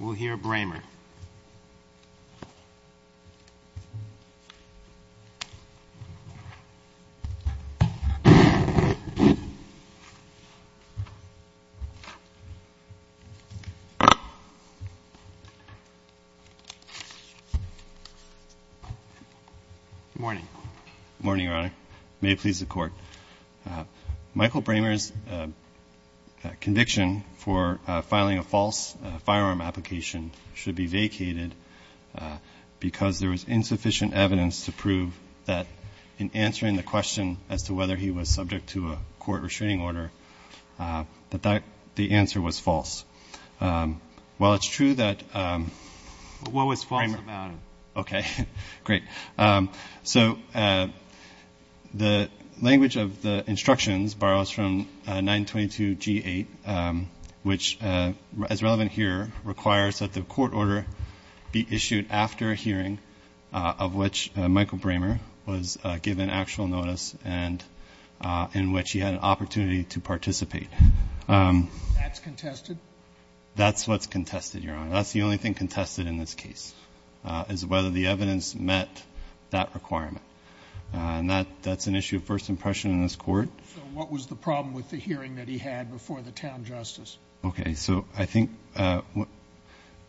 We'll hear Bramer. Morning. Morning, Your Honor. May it please the Court. Michael Bramer's conviction for filing a false firearm application should be vacated because there was insufficient evidence to prove that in answering the question as to whether he was subject to a court restraining order, the answer was false. While it's true that... What was false about him? Okay. Great. So the language of the instructions borrows from 922 G8, which is relevant here. It requires that the court order be issued after a hearing of which Michael Bramer was given actual notice and in which he had an opportunity to participate. That's contested? That's what's contested, Your Honor. That's the only thing contested in this case, is whether the evidence met that requirement. And that's an issue of first impression in this Court. So what was the problem with the hearing that he had before the town justice? Okay. So I think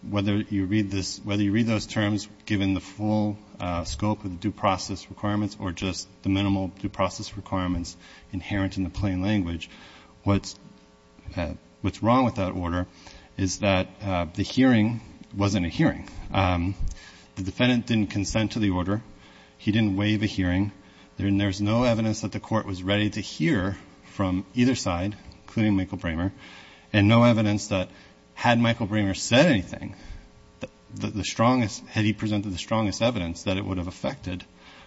whether you read those terms given the full scope of the due process requirements or just the minimal due process requirements inherent in the plain language, what's wrong with that order is that the hearing wasn't a hearing. The defendant didn't consent to the order. He didn't waive a hearing. There's no evidence that the court was ready to hear from either side, including Michael Bramer, and no evidence that had Michael Bramer said anything, the strongest, had he presented the strongest evidence, that it would have affected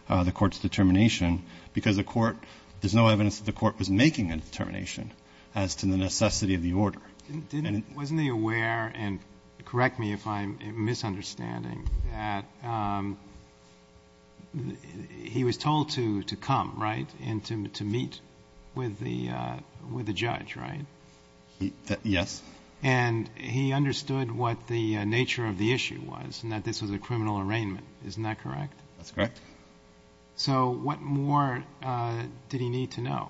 the court's determination because the court, there's no evidence that the court was making a determination as to the necessity of the order. Wasn't he aware, and correct me if I'm misunderstanding, that he was told to come, right, and to meet with the judge, right? Yes. And he understood what the nature of the issue was and that this was a criminal arraignment. Isn't that correct? That's correct. So what more did he need to know?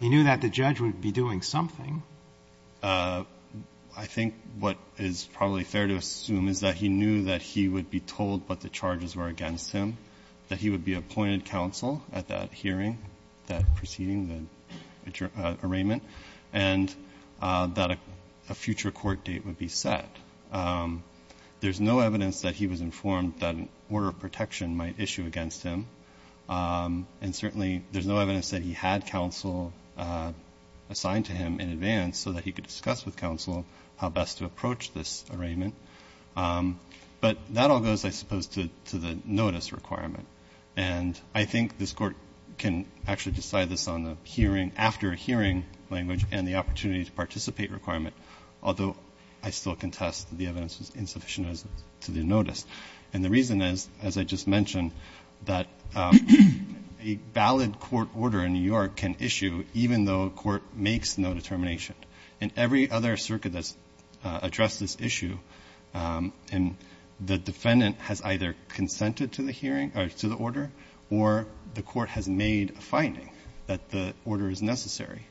He knew that the judge would be doing something. I think what is probably fair to assume is that he knew that he would be told what the charges were against him, that he would be appointed counsel at that hearing, that proceeding, the arraignment, and that a future court date would be set. There's no evidence that he was informed that an order of protection might issue against him, and certainly there's no evidence that he had counsel assigned to him in advance so that he could discuss with counsel how best to approach this arraignment. But that all goes, I suppose, to the notice requirement. And I think this court can actually decide this after a hearing language and the opportunity to participate requirement, although I still contest that the evidence was insufficient to the notice. And the reason is, as I just mentioned, that a valid court order in New York can issue even though a court makes no determination. In every other circuit that's addressed this issue, the defendant has either consented to the order or the court has made a finding that the order is necessary.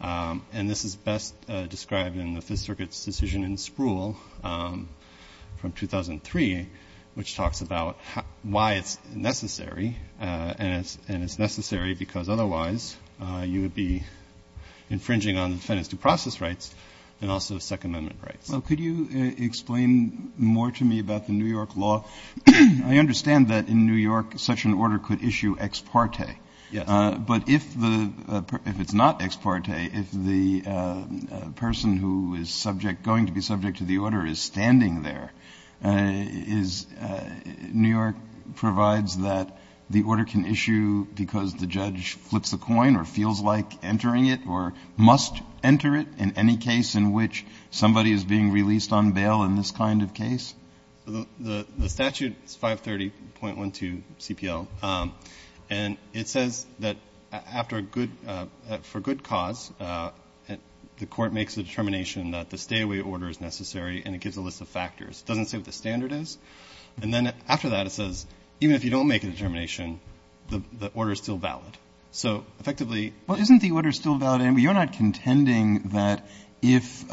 And this is best described in the Fifth Circuit's decision in Spruill from 2003, which talks about why it's necessary. And it's necessary because otherwise you would be infringing on the defendant's due process rights and also Second Amendment rights. Roberts. Well, could you explain more to me about the New York law? I understand that in New York such an order could issue ex parte. Yes. But if it's not ex parte, if the person who is subject, going to be subject to the order, is standing there, New York provides that the order can issue because the judge flips the coin or feels like entering it or must enter it in any case in which somebody is being released on bail in this kind of case? The statute is 530.12 CPL. And it says that after a good – for good cause, the court makes a determination that the stay-away order is necessary and it gives a list of factors. It doesn't say what the standard is. And then after that it says even if you don't make a determination, the order is still valid. So effectively – Well, isn't the order still valid? You're not contending that if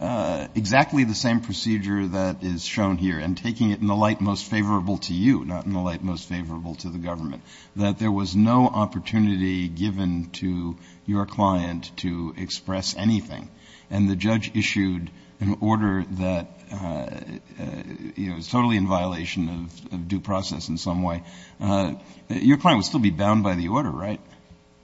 exactly the same procedure that is shown here and taking it in the light most favorable to you, not in the light most favorable to the government, that there was no opportunity given to your client to express anything. And the judge issued an order that, you know, is totally in violation of due process in some way. Your client would still be bound by the order, right?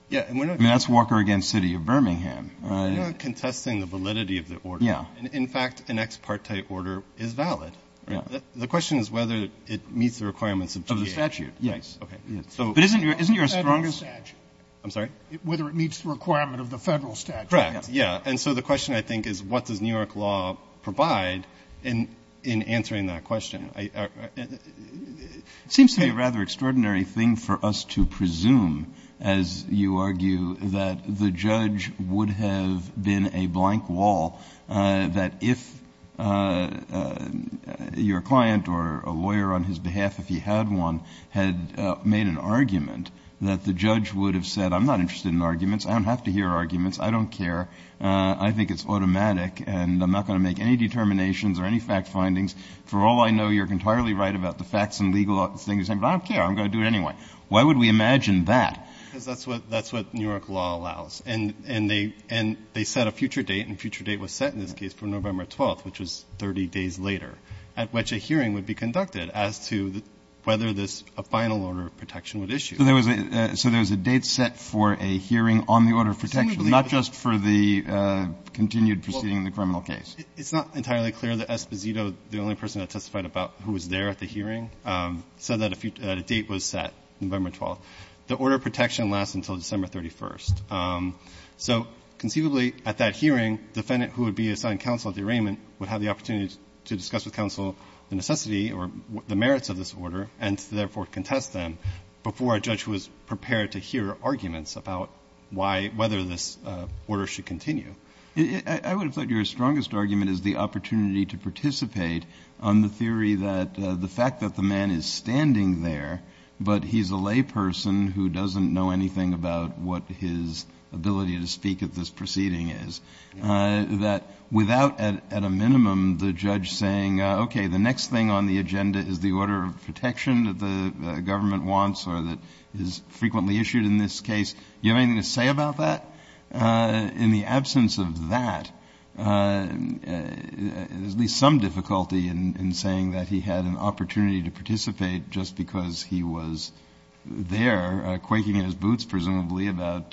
Yeah. I mean, that's Walker v. City of Birmingham. You're not contesting the validity of the order. Yeah. In fact, an ex parte order is valid. The question is whether it meets the requirements of the statute. Of the statute, yes. Okay. But isn't your strongest – Federal statute. I'm sorry? Whether it meets the requirement of the Federal statute. Correct, yeah. And so the question, I think, is what does New York law provide in answering that question? It seems to me a rather extraordinary thing for us to presume, as you argue, that the judge would have been a blank wall, that if your client or a lawyer on his behalf, if he had one, had made an argument that the judge would have said, I'm not interested in arguments, I don't have to hear arguments, I don't care, I think it's automatic, and I'm not going to make any determinations or any fact findings. For all I know, you're entirely right about the facts and legal things, but I don't care, I'm going to do it anyway. Why would we imagine that? Because that's what New York law allows. And they set a future date, and a future date was set in this case for November 12th, which was 30 days later, at which a hearing would be conducted as to whether a final order of protection would issue. So there was a date set for a hearing on the order of protection, not just for the continued proceeding in the criminal case. It's not entirely clear that Esposito, the only person that testified about who was there at the hearing, said that a date was set, November 12th. The order of protection lasts until December 31st. So conceivably, at that hearing, the defendant who would be assigned counsel at the arraignment would have the opportunity to discuss with counsel the necessity or the merits of this order, and to therefore contest them before a judge was prepared to hear arguments about whether this order should continue. I would have thought your strongest argument is the opportunity to participate on the theory that the fact that the man is standing there, but he's a layperson who doesn't know anything about what his ability to speak at this proceeding is, that without, at a minimum, the judge saying, okay, the next thing on the agenda is the order of protection that the government wants or that is frequently issued in this case. Do you have anything to say about that? In the absence of that, there's at least some difficulty in saying that he had an opportunity to participate just because he was there, quaking in his boots, presumably, about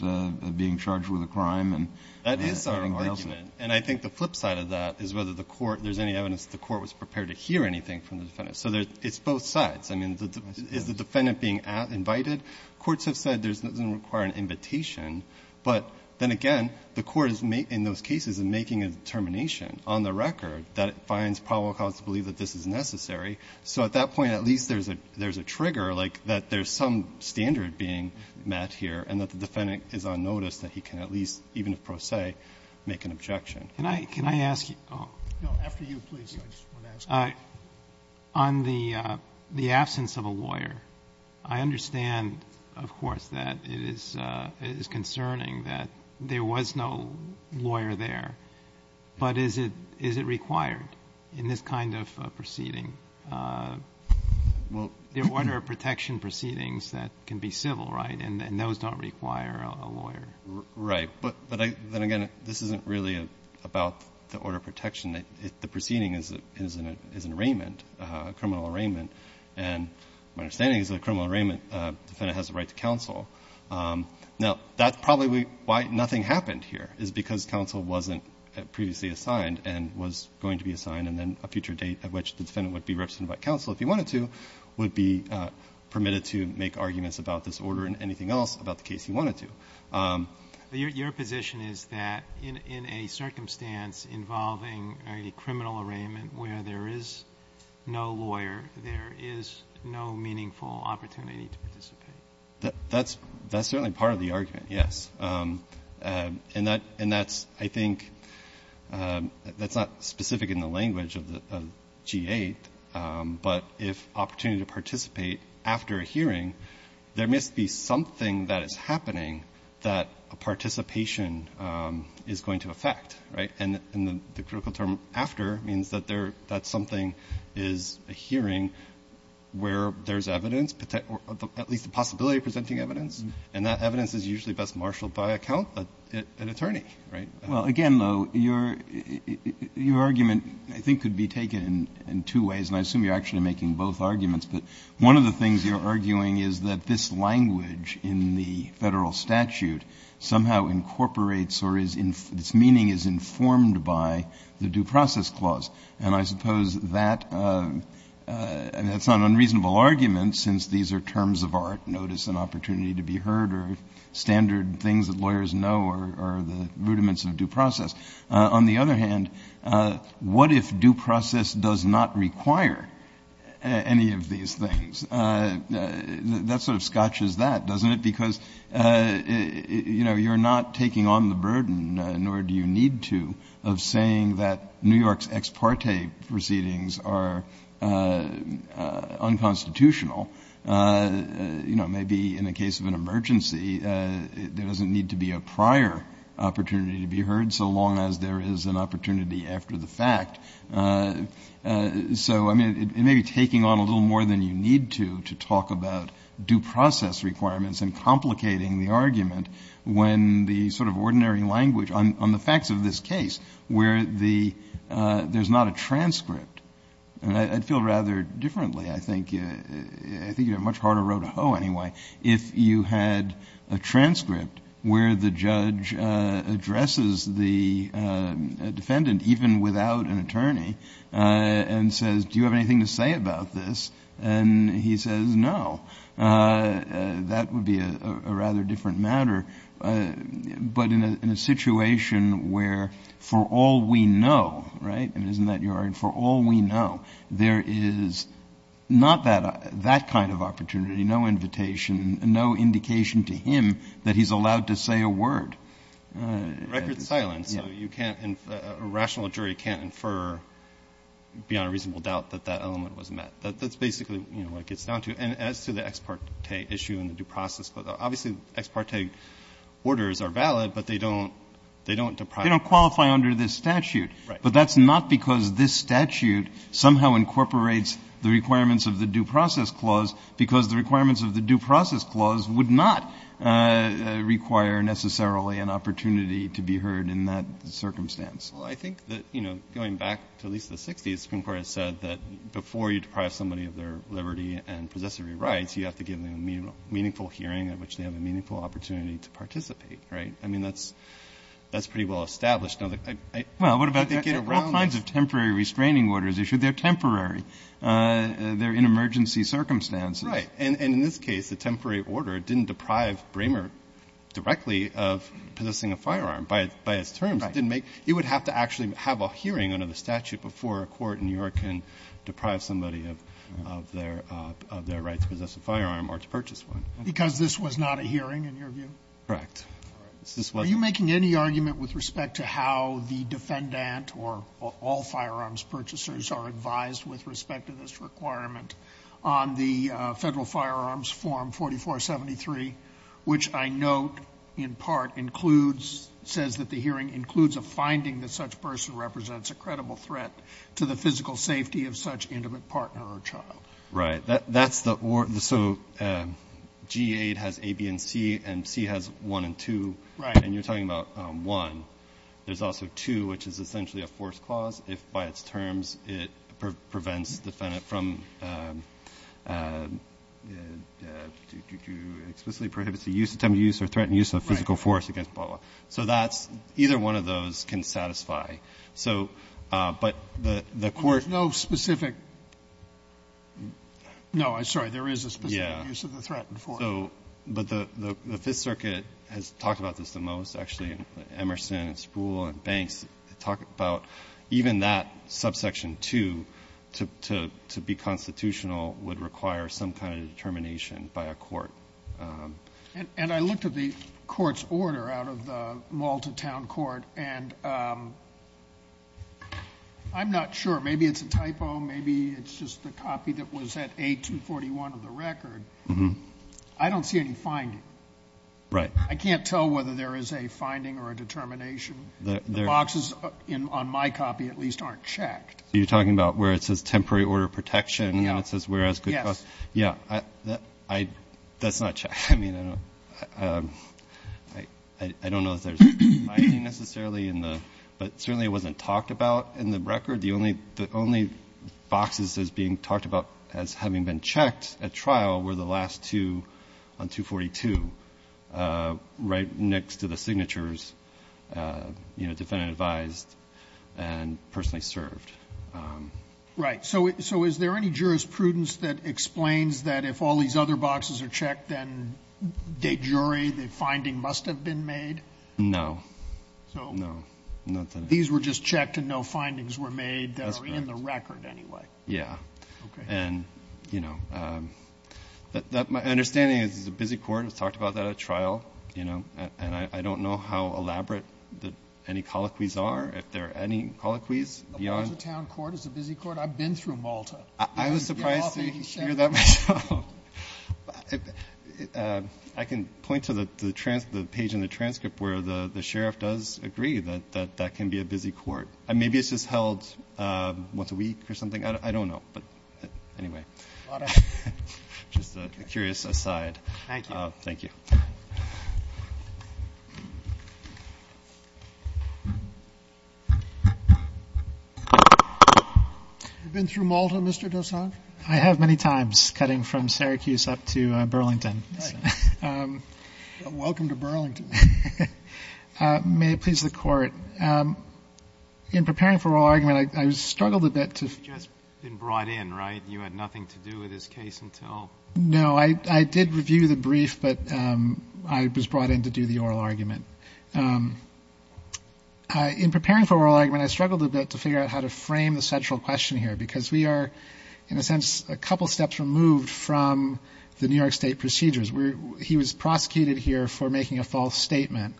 being charged with a crime and anything else. That is our argument. And I think the flip side of that is whether the court, there's any evidence that the court was prepared to hear anything from the defendant. So it's both sides. I mean, is the defendant being invited? Courts have said it doesn't require an invitation. But then again, the court is, in those cases, is making a determination on the record that it finds probable cause to believe that this is necessary. So at that point, at least there's a trigger, like that there's some standard being met here and that the defendant is on notice that he can at least, even if pro se, make an objection. Can I ask you? No, after you, please. I just want to ask you. On the absence of a lawyer, I understand, of course, that it is concerning that there was no lawyer there. But is it required in this kind of proceeding? The order of protection proceedings that can be civil, right? And those don't require a lawyer. Right. But then again, this isn't really about the order of protection. The proceeding is an arraignment, a criminal arraignment. And my understanding is that a criminal arraignment, the defendant has a right to counsel. Now, that's probably why nothing happened here, is because counsel wasn't previously assigned and was going to be assigned and then a future date at which the defendant would be represented by counsel if he wanted to would be permitted to make arguments about this order and anything else about the case he wanted to. Your position is that in a circumstance involving a criminal arraignment where there is no lawyer, there is no meaningful opportunity to participate? That's certainly part of the argument, yes. And that's, I think, that's not specific in the language of G-8, but if opportunity to participate after a hearing, there must be something that is happening that a participation is going to affect. And the critical term after means that something is a hearing where there's evidence, at least the possibility of presenting evidence, and that evidence is usually best marshaled by an attorney, right? Well, again, though, your argument, I think, could be taken in two ways, and I assume you're actually making both arguments. But one of the things you're arguing is that this language in the Federal statute somehow incorporates or its meaning is informed by the Due Process Clause. And I suppose that's not an unreasonable argument since these are terms of art, notice and opportunity to be heard, or standard things that lawyers know are the rudiments of due process. On the other hand, what if due process does not require any of these things? That sort of scotches that, doesn't it? Because, you know, you're not taking on the burden, nor do you need to, of saying that New York's ex parte proceedings are unconstitutional. You know, maybe in a case of an emergency, there doesn't need to be a prior opportunity to be heard so long as there is an opportunity after the fact. So, I mean, it may be taking on a little more than you need to when the sort of ordinary language on the facts of this case, where there's not a transcript. And I'd feel rather differently, I think. I think you have a much harder road to hoe anyway if you had a transcript where the judge addresses the defendant, even without an attorney, and says, do you have anything to say about this? And he says, no. That would be a rather different matter. But in a situation where, for all we know, right, and isn't that your argument, for all we know, there is not that kind of opportunity, no invitation, no indication to him that he's allowed to say a word. Record silence. A rational jury can't infer beyond a reasonable doubt that that element was met. That's basically what it gets down to. And as to the ex parte issue and the due process clause, obviously the ex parte orders are valid, but they don't deprive you. They don't qualify under this statute. Right. But that's not because this statute somehow incorporates the requirements of the due process clause, because the requirements of the due process clause would not require necessarily an opportunity to be heard in that circumstance. Well, I think that, you know, going back to at least the 60s, the Supreme Court has said that before you deprive somebody of their liberty and possessory rights, you have to give them a meaningful hearing at which they have a meaningful opportunity to participate. Right? I mean, that's pretty well established. Well, what about the get around this? All kinds of temporary restraining orders issued, they're temporary. They're in emergency circumstances. Right. And in this case, the temporary order didn't deprive Bramer directly of possessing a firearm. By its terms, it didn't make you would have to actually have a hearing under the because then you can deprive somebody of their rights to possess a firearm or to purchase one. Because this was not a hearing in your view? Correct. Are you making any argument with respect to how the defendant or all firearms purchasers are advised with respect to this requirement on the Federal Firearms Form 4473, which I note in part includes, says that the hearing includes a finding that such a person represents a credible threat to the physical safety of such intimate partner or child. Right. So G8 has A, B, and C, and C has 1 and 2. Right. And you're talking about 1. There's also 2, which is essentially a force clause. If by its terms it prevents the defendant from explicitly prohibits the use, attempt to use, or threaten use of physical force against Bala. So either one of those can satisfy. So, but the court. There's no specific. No, I'm sorry. There is a specific use of the threatened force. Yeah. So, but the Fifth Circuit has talked about this the most, actually. Emerson and Spruill and Banks talk about even that subsection 2 to be constitutional would require some kind of determination by a court. And I looked at the court's order out of the Malta town court, and I'm not sure. Maybe it's a typo. Maybe it's just the copy that was at A241 of the record. I don't see any finding. Right. I can't tell whether there is a finding or a determination. The boxes on my copy at least aren't checked. So you're talking about where it says temporary order of protection, and it says whereas good cause. Yes. Yeah. That's not checked. I mean, I don't know if there's a finding necessarily in the, but certainly it wasn't talked about in the record. The only boxes as being talked about as having been checked at trial were the last two on 242 right next to the signatures, you know, defendant advised and personally served. Right. So is there any jurisprudence that explains that if all these other boxes are checked, then de jure the finding must have been made? No. No. These were just checked and no findings were made that are in the record anyway. Yeah. Okay. And, you know, my understanding is it's a busy court. It's talked about that at trial, you know. And I don't know how elaborate any colloquies are, if there are any colloquies beyond. It's a town court. It's a busy court. I've been through Malta. I was surprised to hear that myself. I can point to the page in the transcript where the sheriff does agree that that can be a busy court. Maybe it's just held once a week or something. I don't know. But anyway, just a curious aside. Thank you. Thank you. You've been through Malta, Mr. Dosan? I have many times, cutting from Syracuse up to Burlington. Right. Welcome to Burlington. May it please the Court. In preparing for oral argument, I struggled a bit to ---- You've just been brought in, right? You had nothing to do with this case until ---- No, I did review the brief, but I was brought in to do the oral argument. In preparing for oral argument, I struggled a bit to figure out how to frame the central question here because we are, in a sense, a couple steps removed from the New York State procedures. He was prosecuted here for making a false statement.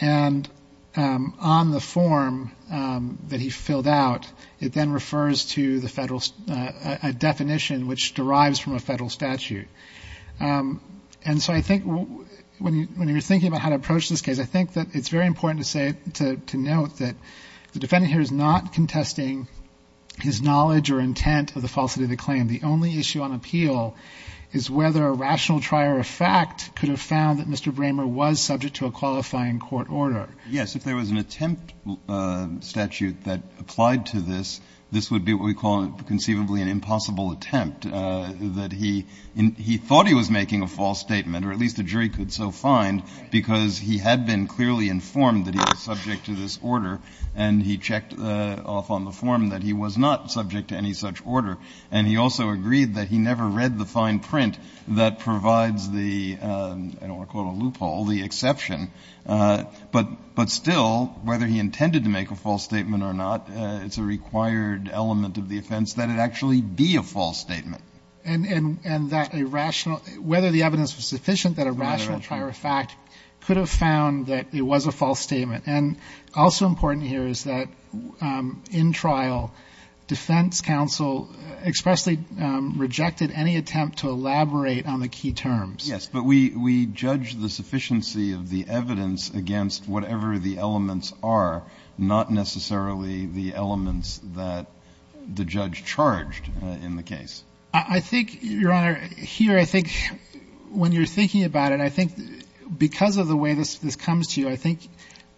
And on the form that he filled out, it then refers to a definition which derives from a Federal statute. And so I think when you're thinking about how to approach this case, I think that it's very important to say, to note, that the defendant here is not contesting his knowledge or intent of the falsity of the claim. The only issue on appeal is whether a rational trier of fact could have found that Mr. Bramer was subject to a qualifying court order. Yes, if there was an attempt statute that applied to this, this would be what we call conceivably an impossible attempt. That he thought he was making a false statement, or at least the jury could so find, because he had been clearly informed that he was subject to this order. And he checked off on the form that he was not subject to any such order. And he also agreed that he never read the fine print that provides the, I don't want to call it a loophole, the exception. But still, whether he intended to make a false statement or not, it's a required element of the offense that it actually be a false statement. And that a rational, whether the evidence was sufficient, that a rational trier of fact could have found that it was a false statement. And also important here is that in trial, defense counsel expressly rejected any attempt to elaborate on the key terms. Yes, but we judge the sufficiency of the evidence against whatever the elements are, not necessarily the elements that the judge charged in the case. I think, Your Honor, here I think when you're thinking about it, I think because of the way this comes to you, I think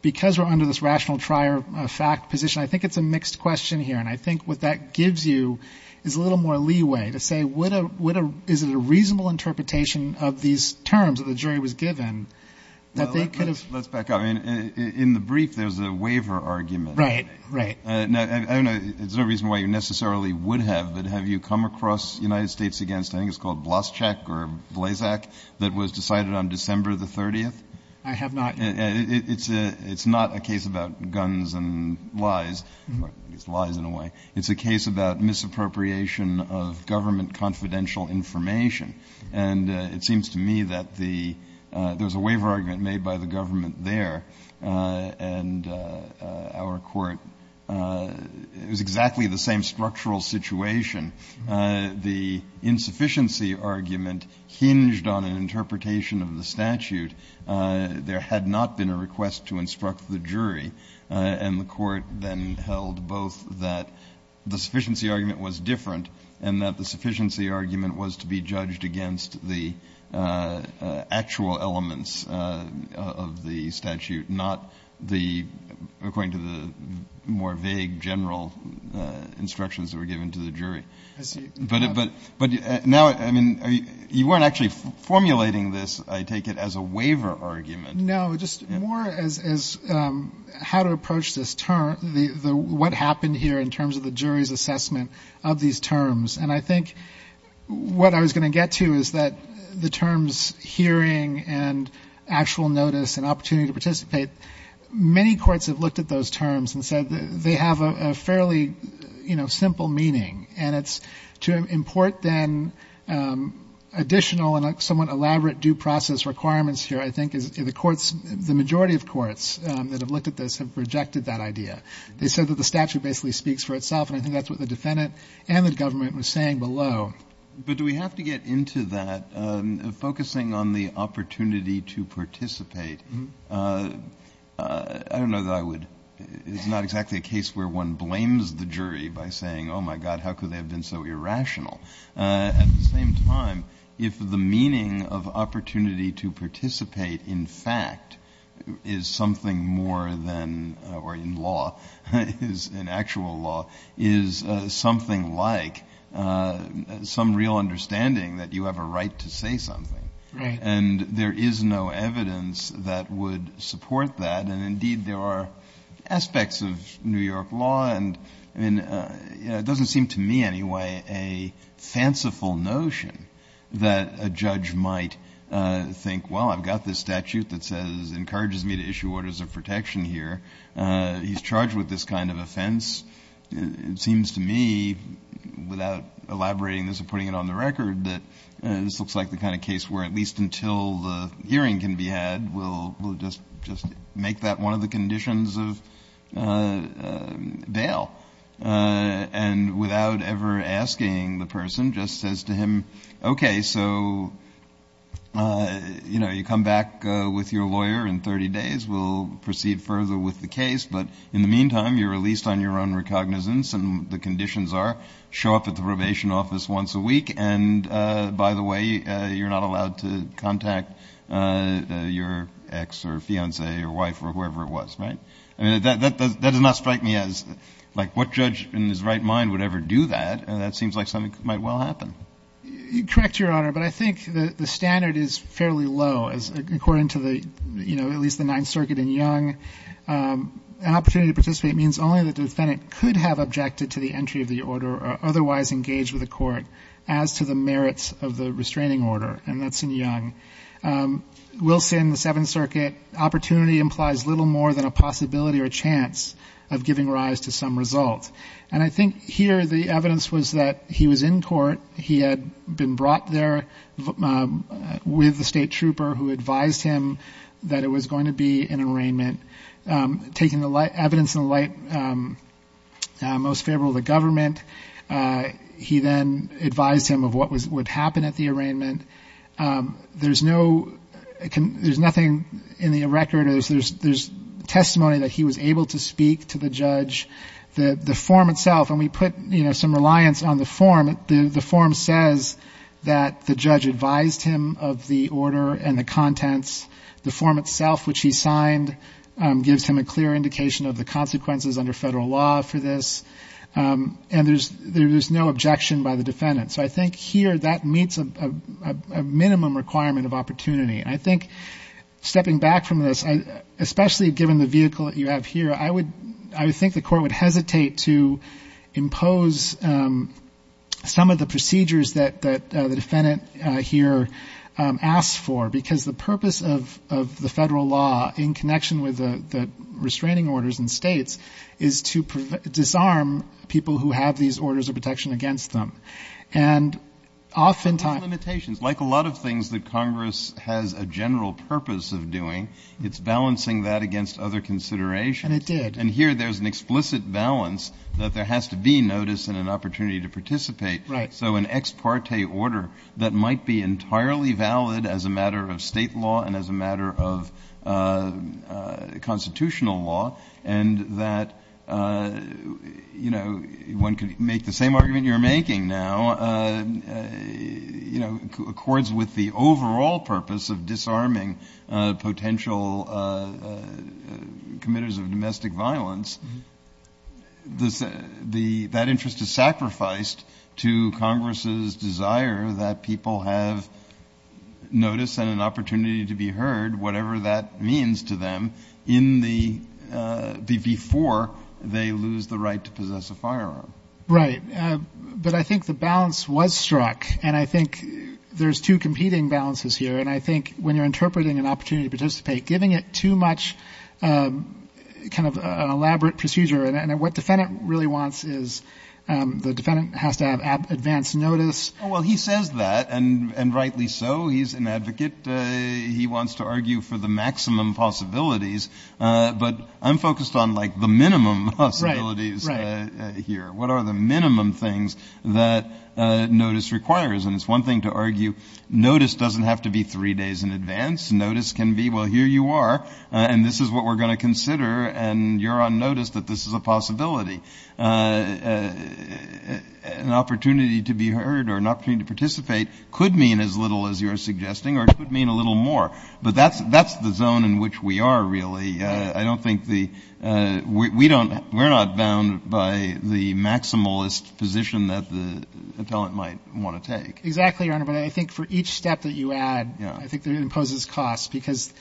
because we're under this rational trier of fact position, I think it's a mixed question here. And I think what that gives you is a little more leeway to say, is it a reasonable interpretation of these terms that the jury was given? Well, let's back up. In the brief, there's a waiver argument. Right, right. I don't know. There's no reason why you necessarily would have, but have you come across United States against, I think it's called Blaschek or Blazak, that was decided on December the 30th? I have not. It's not a case about guns and lies. It's lies in a way. It's a case about misappropriation of government confidential information. And it seems to me that the — there was a waiver argument made by the government there, and our court — it was exactly the same structural situation. The insufficiency argument hinged on an interpretation of the statute. There had not been a request to instruct the jury, and the court then held both that the sufficiency argument was different and that the sufficiency argument was to be judged against the actual elements of the statute, not the — according to the more vague general instructions that were given to the jury. I see. But now, I mean, you weren't actually formulating this, I take it, as a waiver argument. No, just more as how to approach this term, what happened here in terms of the jury's assessment of these terms. And I think what I was going to get to is that the terms hearing and actual notice and opportunity to participate, many courts have looked at those terms and said they have a fairly, you know, simple meaning. And it's to import then additional and somewhat elaborate due process requirements here, I think, is the majority of courts that have looked at this have rejected that idea. They said that the statute basically speaks for itself, and I think that's what the defendant and the government was saying below. But do we have to get into that? Focusing on the opportunity to participate, I don't know that I would — it's not exactly a case where one blames the jury by saying, oh, my God, how could they have been so irrational. At the same time, if the meaning of opportunity to participate, in fact, is something more than — is an actual law, is something like some real understanding that you have a right to say something. And there is no evidence that would support that. And, indeed, there are aspects of New York law. And it doesn't seem to me, anyway, a fanciful notion that a judge might think, well, I've got this statute that says encourages me to issue orders of protection here. He's charged with this kind of offense. It seems to me, without elaborating this or putting it on the record, that this looks like the kind of case where at least until the hearing can be had, we'll just make that one of the conditions of bail. And without ever asking the person, just says to him, okay, so, you know, you come back with your lawyer in 30 days. We'll proceed further with the case. But in the meantime, you're released on your own recognizance. And the conditions are show up at the probation office once a week. And, by the way, you're not allowed to contact your ex or fiancée or wife or whoever it was. Right? I mean, that does not strike me as, like, what judge in his right mind would ever do that. That seems like something that might well happen. Correct, Your Honor. But I think the standard is fairly low. According to the, you know, at least the Ninth Circuit in Young, an opportunity to participate means only that the defendant could have objected to the entry of the order or otherwise engaged with the court as to the merits of the restraining order. And that's in Young. Wilson, the Seventh Circuit, opportunity implies little more than a possibility or a chance of giving rise to some result. And I think here the evidence was that he was in court. He had been brought there with the state trooper who advised him that it was going to be an arraignment. Taking the evidence in the light most favorable to the government, he then advised him of what would happen at the arraignment. There's nothing in the record. There's testimony that he was able to speak to the judge. The form itself, and we put, you know, some reliance on the form, the form says that the judge advised him of the order and the contents. The form itself, which he signed, gives him a clear indication of the consequences under federal law for this. And there's no objection by the defendant. So I think here that meets a minimum requirement of opportunity. I think stepping back from this, especially given the vehicle that you have here, I would think the court would hesitate to impose some of the procedures that the defendant here asked for, because the purpose of the federal law, in connection with the restraining orders in states, is to disarm people who have these orders of protection against them. And oftentimes the limitations, like a lot of things that Congress has a general purpose of doing, it's balancing that against other considerations. And it did. And here there's an explicit balance that there has to be notice and an opportunity to participate. Right. So an ex parte order that might be entirely valid as a matter of state law and as a matter of constitutional law, and that, you know, one could make the same argument you're making now, you know, accords with the overall purpose of disarming potential committers of domestic violence, that interest is sacrificed to Congress's desire that people have notice and an opportunity to be heard, whatever that means to them, before they lose the right to possess a firearm. Right. But I think the balance was struck, and I think there's two competing balances here. And I think when you're interpreting an opportunity to participate, giving it too much kind of an elaborate procedure, and what the defendant really wants is the defendant has to have advance notice. Well, he says that, and rightly so. He's an advocate. He wants to argue for the maximum possibilities. But I'm focused on, like, the minimum possibilities here. What are the minimum things that notice requires? And it's one thing to argue notice doesn't have to be three days in advance. Notice can be, well, here you are, and this is what we're going to consider, and you're on notice that this is a possibility. An opportunity to be heard or an opportunity to participate could mean as little as you're suggesting, or it could mean a little more. But that's the zone in which we are, really. I don't think the we're not bound by the maximalist position that the appellant might want to take. Exactly, Your Honor. But I think for each step that you add, I think it imposes cost because.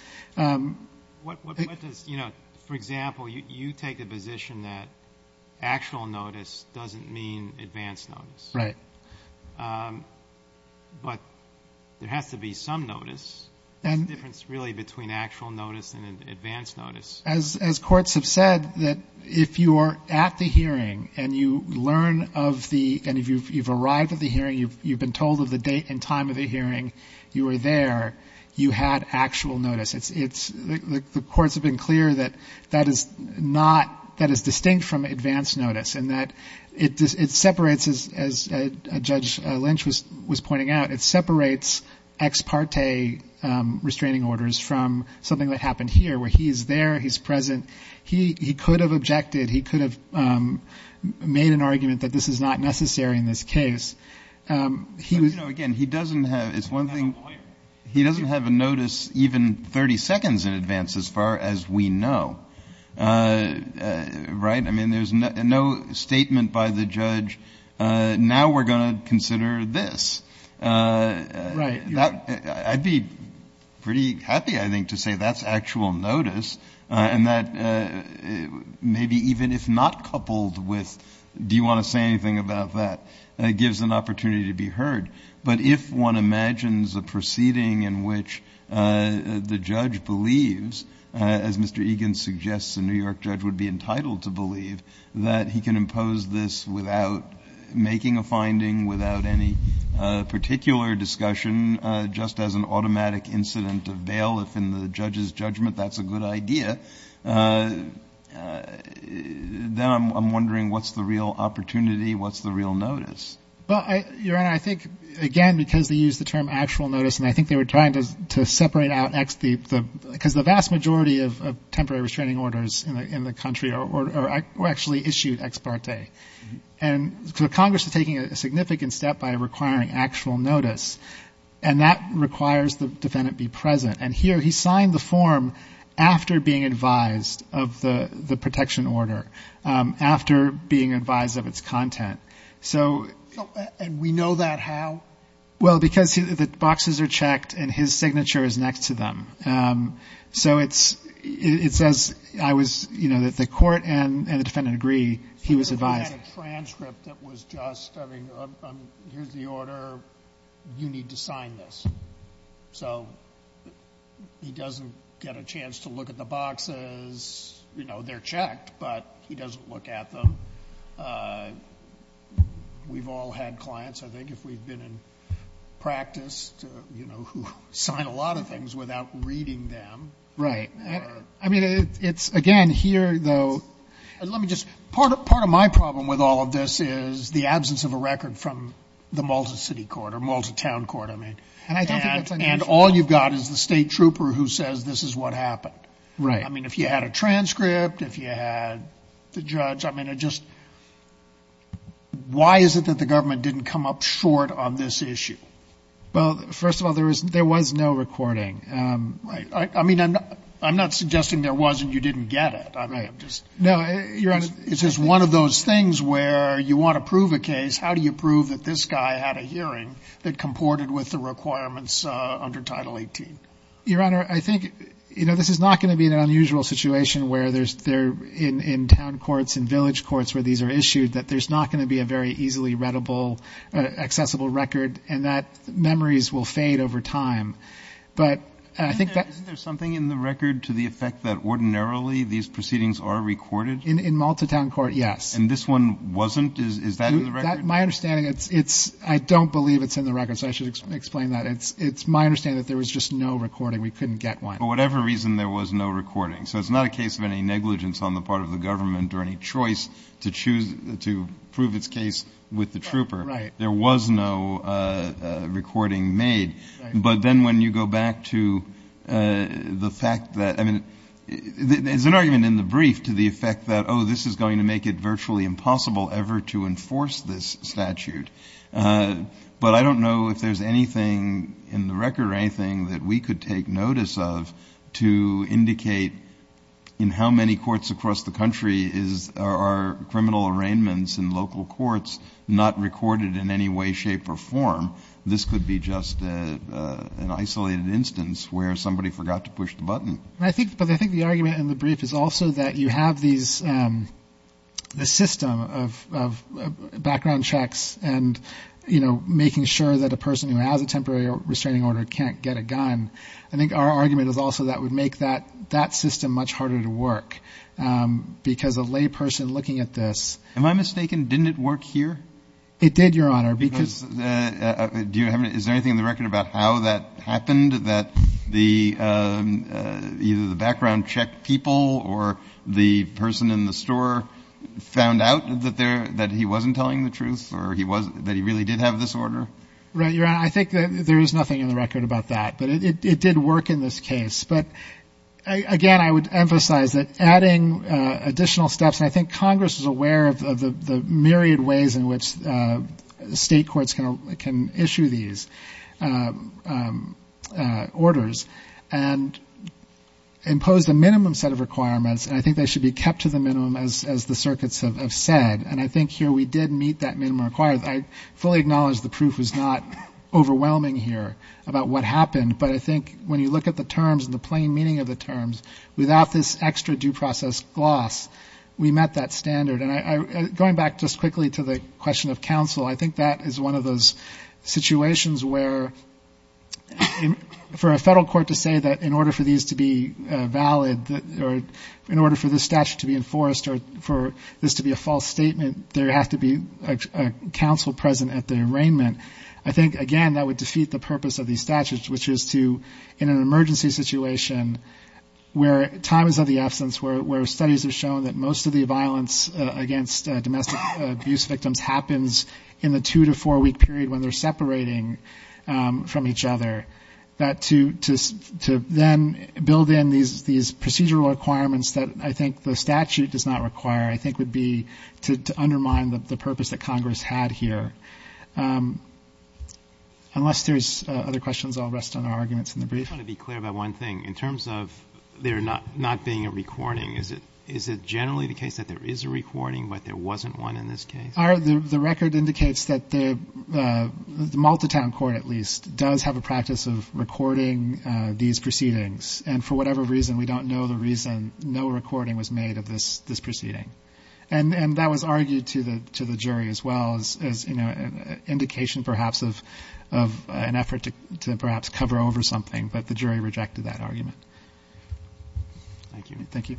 What does, you know, for example, you take a position that actual notice doesn't mean advance notice. Right. But there has to be some notice. The difference, really, between actual notice and advance notice. As courts have said, that if you are at the hearing and you learn of the, and if you've arrived at the hearing, you've been told of the date and time of the hearing, you were there, you had actual notice. The courts have been clear that that is not, that is distinct from advance notice, in that it separates, as Judge Lynch was pointing out, it separates ex parte restraining orders from something that happened here, where he's there, he's present. He could have objected. He could have made an argument that this is not necessary in this case. You know, again, he doesn't have, it's one thing. He doesn't have a lawyer. He doesn't have a notice even 30 seconds in advance, as far as we know. Right? I mean, there's no statement by the judge, now we're going to consider this. Right. I'd be pretty happy, I think, to say that's actual notice, and that maybe even if not coupled with, do you want to say anything about that, gives an opportunity to be heard. But if one imagines a proceeding in which the judge believes, as Mr. Egan suggests a New York judge would be entitled to believe, that he can impose this without making a finding, without any particular discussion, just as an automatic incident of bail, if in the judge's judgment that's a good idea, then I'm wondering what's the real opportunity, what's the real notice. Well, Your Honor, I think, again, because they use the term actual notice, and I think they were trying to separate out X, because the vast majority of temporary restraining orders in the country were actually issued ex parte. And so Congress is taking a significant step by requiring actual notice, and that requires the defendant be present. And here he signed the form after being advised of the protection order, after being advised of its content. And we know that how? Well, because the boxes are checked and his signature is next to them. So it says, you know, that the court and the defendant agree he was advised. He had a transcript that was just, I mean, here's the order, you need to sign this. So he doesn't get a chance to look at the boxes. You know, they're checked, but he doesn't look at them. We've all had clients, I think, if we've been in practice, you know, who sign a lot of things without reading them. Right. I mean, it's, again, here, though. Let me just, part of my problem with all of this is the absence of a record from the Malta City Court, or Malta Town Court, I mean. And I don't think that's unusual. And all you've got is the state trooper who says this is what happened. Right. I mean, if you had a transcript, if you had the judge, I mean, it just, why is it that the government didn't come up short on this issue? Well, first of all, there was no recording. Right. I mean, I'm not suggesting there was and you didn't get it. No, Your Honor, it's just one of those things where you want to prove a case, how do you prove that this guy had a hearing that comported with the requirements under Title 18? Your Honor, I think, you know, this is not going to be an unusual situation where there's, in town courts and village courts where these are issued, that there's not going to be a very easily readable, accessible record, and that memories will fade over time. But I think that. Isn't there something in the record to the effect that ordinarily these proceedings are recorded? In Malta Town Court, yes. And this one wasn't? Is that in the record? My understanding, it's, I don't believe it's in the record, so I should explain that. It's my understanding that there was just no recording. We couldn't get one. For whatever reason, there was no recording. So it's not a case of any negligence on the part of the government or any choice to choose, to prove its case with the trooper. Right. There was no recording made. But then when you go back to the fact that, I mean, there's an argument in the brief to the effect that, oh, this is going to make it virtually impossible ever to enforce this statute. But I don't know if there's anything in the record or anything that we could take notice of to indicate in how many courts across the country are criminal arraignments in local courts not recorded in any way, shape, or form. This could be just an isolated instance where somebody forgot to push the button. But I think the argument in the brief is also that you have this system of background checks and, you know, making sure that a person who has a temporary restraining order can't get a gun. I think our argument is also that would make that system much harder to work because a lay person looking at this. Am I mistaken? Didn't it work here? It did, Your Honor. Is there anything in the record about how that happened, that either the background check people or the person in the store found out that he wasn't telling the truth or that he really did have this order? Right, Your Honor. I think that there is nothing in the record about that. But it did work in this case. But, again, I would emphasize that adding additional steps, and I think Congress is aware of the myriad ways in which state courts can issue these orders and impose a minimum set of requirements, and I think they should be kept to the minimum, as the circuits have said. And I think here we did meet that minimum requirement. I fully acknowledge the proof is not overwhelming here about what happened, but I think when you look at the terms and the plain meaning of the terms, without this extra due process gloss, we met that standard. And going back just quickly to the question of counsel, I think that is one of those situations where for a federal court to say that in order for these to be valid or in order for this statute to be enforced or for this to be a false statement, there has to be a counsel present at the arraignment. I think, again, that would defeat the purpose of these statutes, which is to, in an emergency situation where time is of the essence, where studies have shown that most of the violence against domestic abuse victims happens in the two- to four-week period when they're separating from each other, that to then build in these procedural requirements that I think the statute does not require, I think would be to undermine the purpose that Congress had here. Unless there's other questions, I'll rest on our arguments in the brief. I just want to be clear about one thing. In terms of there not being a recording, is it generally the case that there is a recording but there wasn't one in this case? The record indicates that the Multitown Court, at least, does have a practice of recording these proceedings. And for whatever reason, we don't know the reason no recording was made of this proceeding. And that was argued to the jury as well as an indication perhaps of an effort to perhaps cover over something. But the jury rejected that argument. Thank you. Thank you.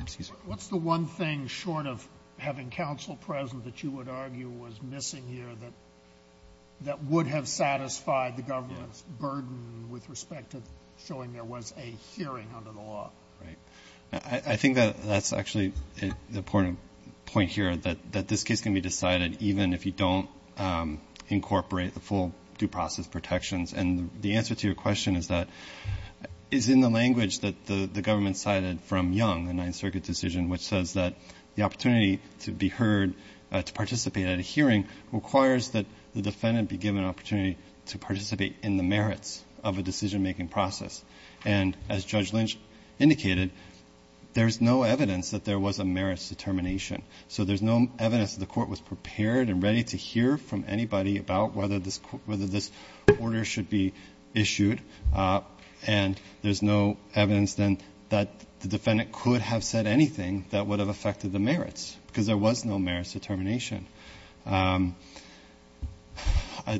Excuse me. What's the one thing short of having counsel present that you would argue was missing here that would have satisfied the government's burden with respect to showing there was a hearing under the law? Right. I think that that's actually the point here, that this case can be decided even if you don't incorporate the full due process protections. And the answer to your question is that it's in the language that the government cited from Young, the Ninth Circuit decision, which says that the opportunity to be heard, to participate at a hearing, requires that the defendant be given an opportunity to participate in the merits of a decision-making process. And as Judge Lynch indicated, there's no evidence that there was a merits determination. So there's no evidence that the Court was prepared and ready to hear from anybody about whether this order should be issued. And there's no evidence then that the defendant could have said anything that would have affected the merits, because there was no merits determination.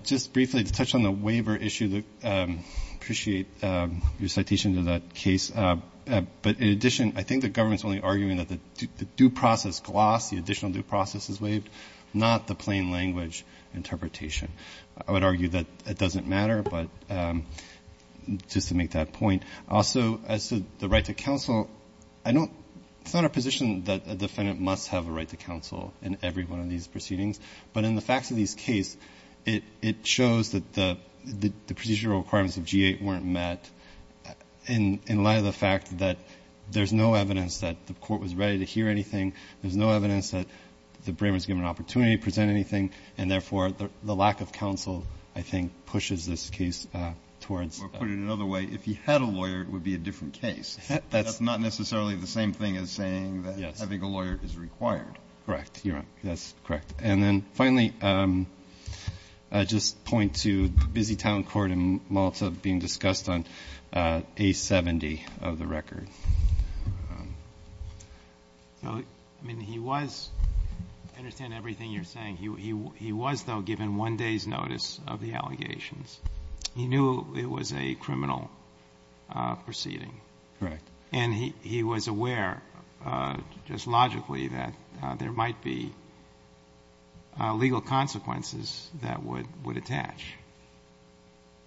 Just briefly to touch on the waiver issue, I appreciate your citation to that case. But in addition, I think the government is only arguing that the due process gloss, the additional due process is waived, not the plain language interpretation. I would argue that it doesn't matter, but just to make that point. Also, as to the right to counsel, it's not our position that a defendant must have a right to counsel in every one of these proceedings. But in the facts of this case, it shows that the procedural requirements of G-8 weren't met, in light of the fact that there's no evidence that the Court was ready to hear anything. There's no evidence that the brainer was given an opportunity to present anything, and therefore the lack of counsel, I think, pushes this case towards. Or put it another way, if he had a lawyer, it would be a different case. That's not necessarily the same thing as saying that having a lawyer is required. Correct. You're right. That's correct. And then finally, just point to the busy town court in Malta being discussed on A-70 of the record. So, I mean, he was, I understand everything you're saying. He was, though, given one day's notice of the allegations. He knew it was a criminal proceeding. Correct. And he was aware, just logically, that there might be legal consequences that would attach.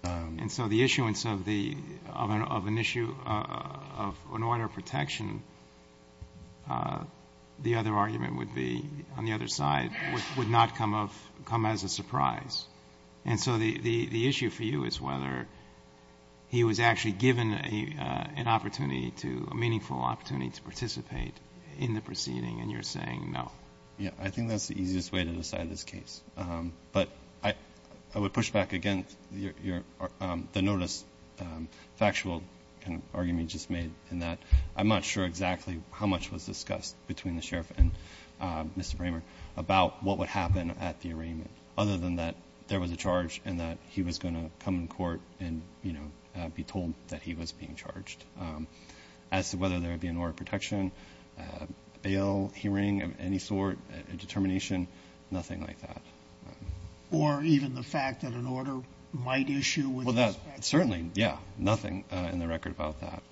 And so the issuance of an order of protection, the other argument would be, on the other side, would not come as a surprise. And so the issue for you is whether he was actually given an opportunity to, a meaningful opportunity to participate in the proceeding, and you're saying no. Yeah. I think that's the easiest way to decide this case. But I would push back against the notice factual argument you just made, in that I'm not sure exactly how much was discussed between the sheriff and Mr. Bramer about what would happen at the arraignment, other than that there was a charge and that he was going to come to court and be told that he was being charged. As to whether there would be an order of protection, bail hearing of any sort, a determination, nothing like that. Or even the fact that an order might issue with respect to that? Certainly, yeah, nothing in the record about that.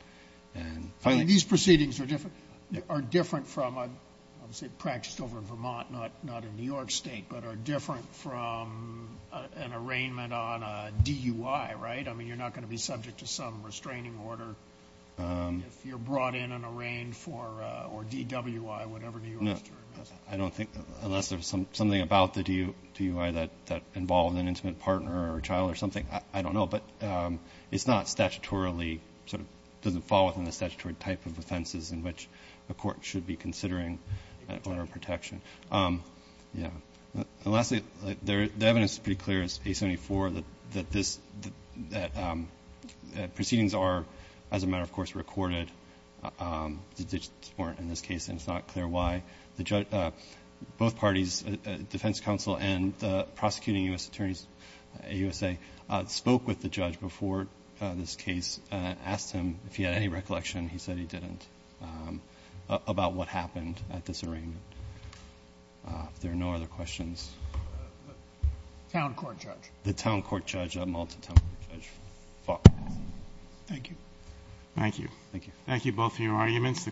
These proceedings are different from, obviously practiced over in Vermont, not in New York State, but are different from an arraignment on a DUI, right? I mean, you're not going to be subject to some restraining order if you're brought in and arraigned for, or DWI, whatever New York's term is. I don't think, unless there's something about the DUI that involved an intimate partner or child or something, I don't know. But it's not statutorily, sort of doesn't fall within the statutory type of offenses in which a court should be considering an order of protection. Yeah. And lastly, the evidence is pretty clear. It's A-74 that this, that proceedings are, as a matter of course, recorded. The digits weren't in this case, and it's not clear why. The judge, both parties, defense counsel and the prosecuting U.S. attorneys, AUSA, spoke with the judge before this case, asked him if he had any recollection. He said he didn't, about what happened at this arraignment. If there are no other questions. Town court judge. The town court judge, Malta town court judge, Falk. Thank you. Thank you. Thank you both for your arguments.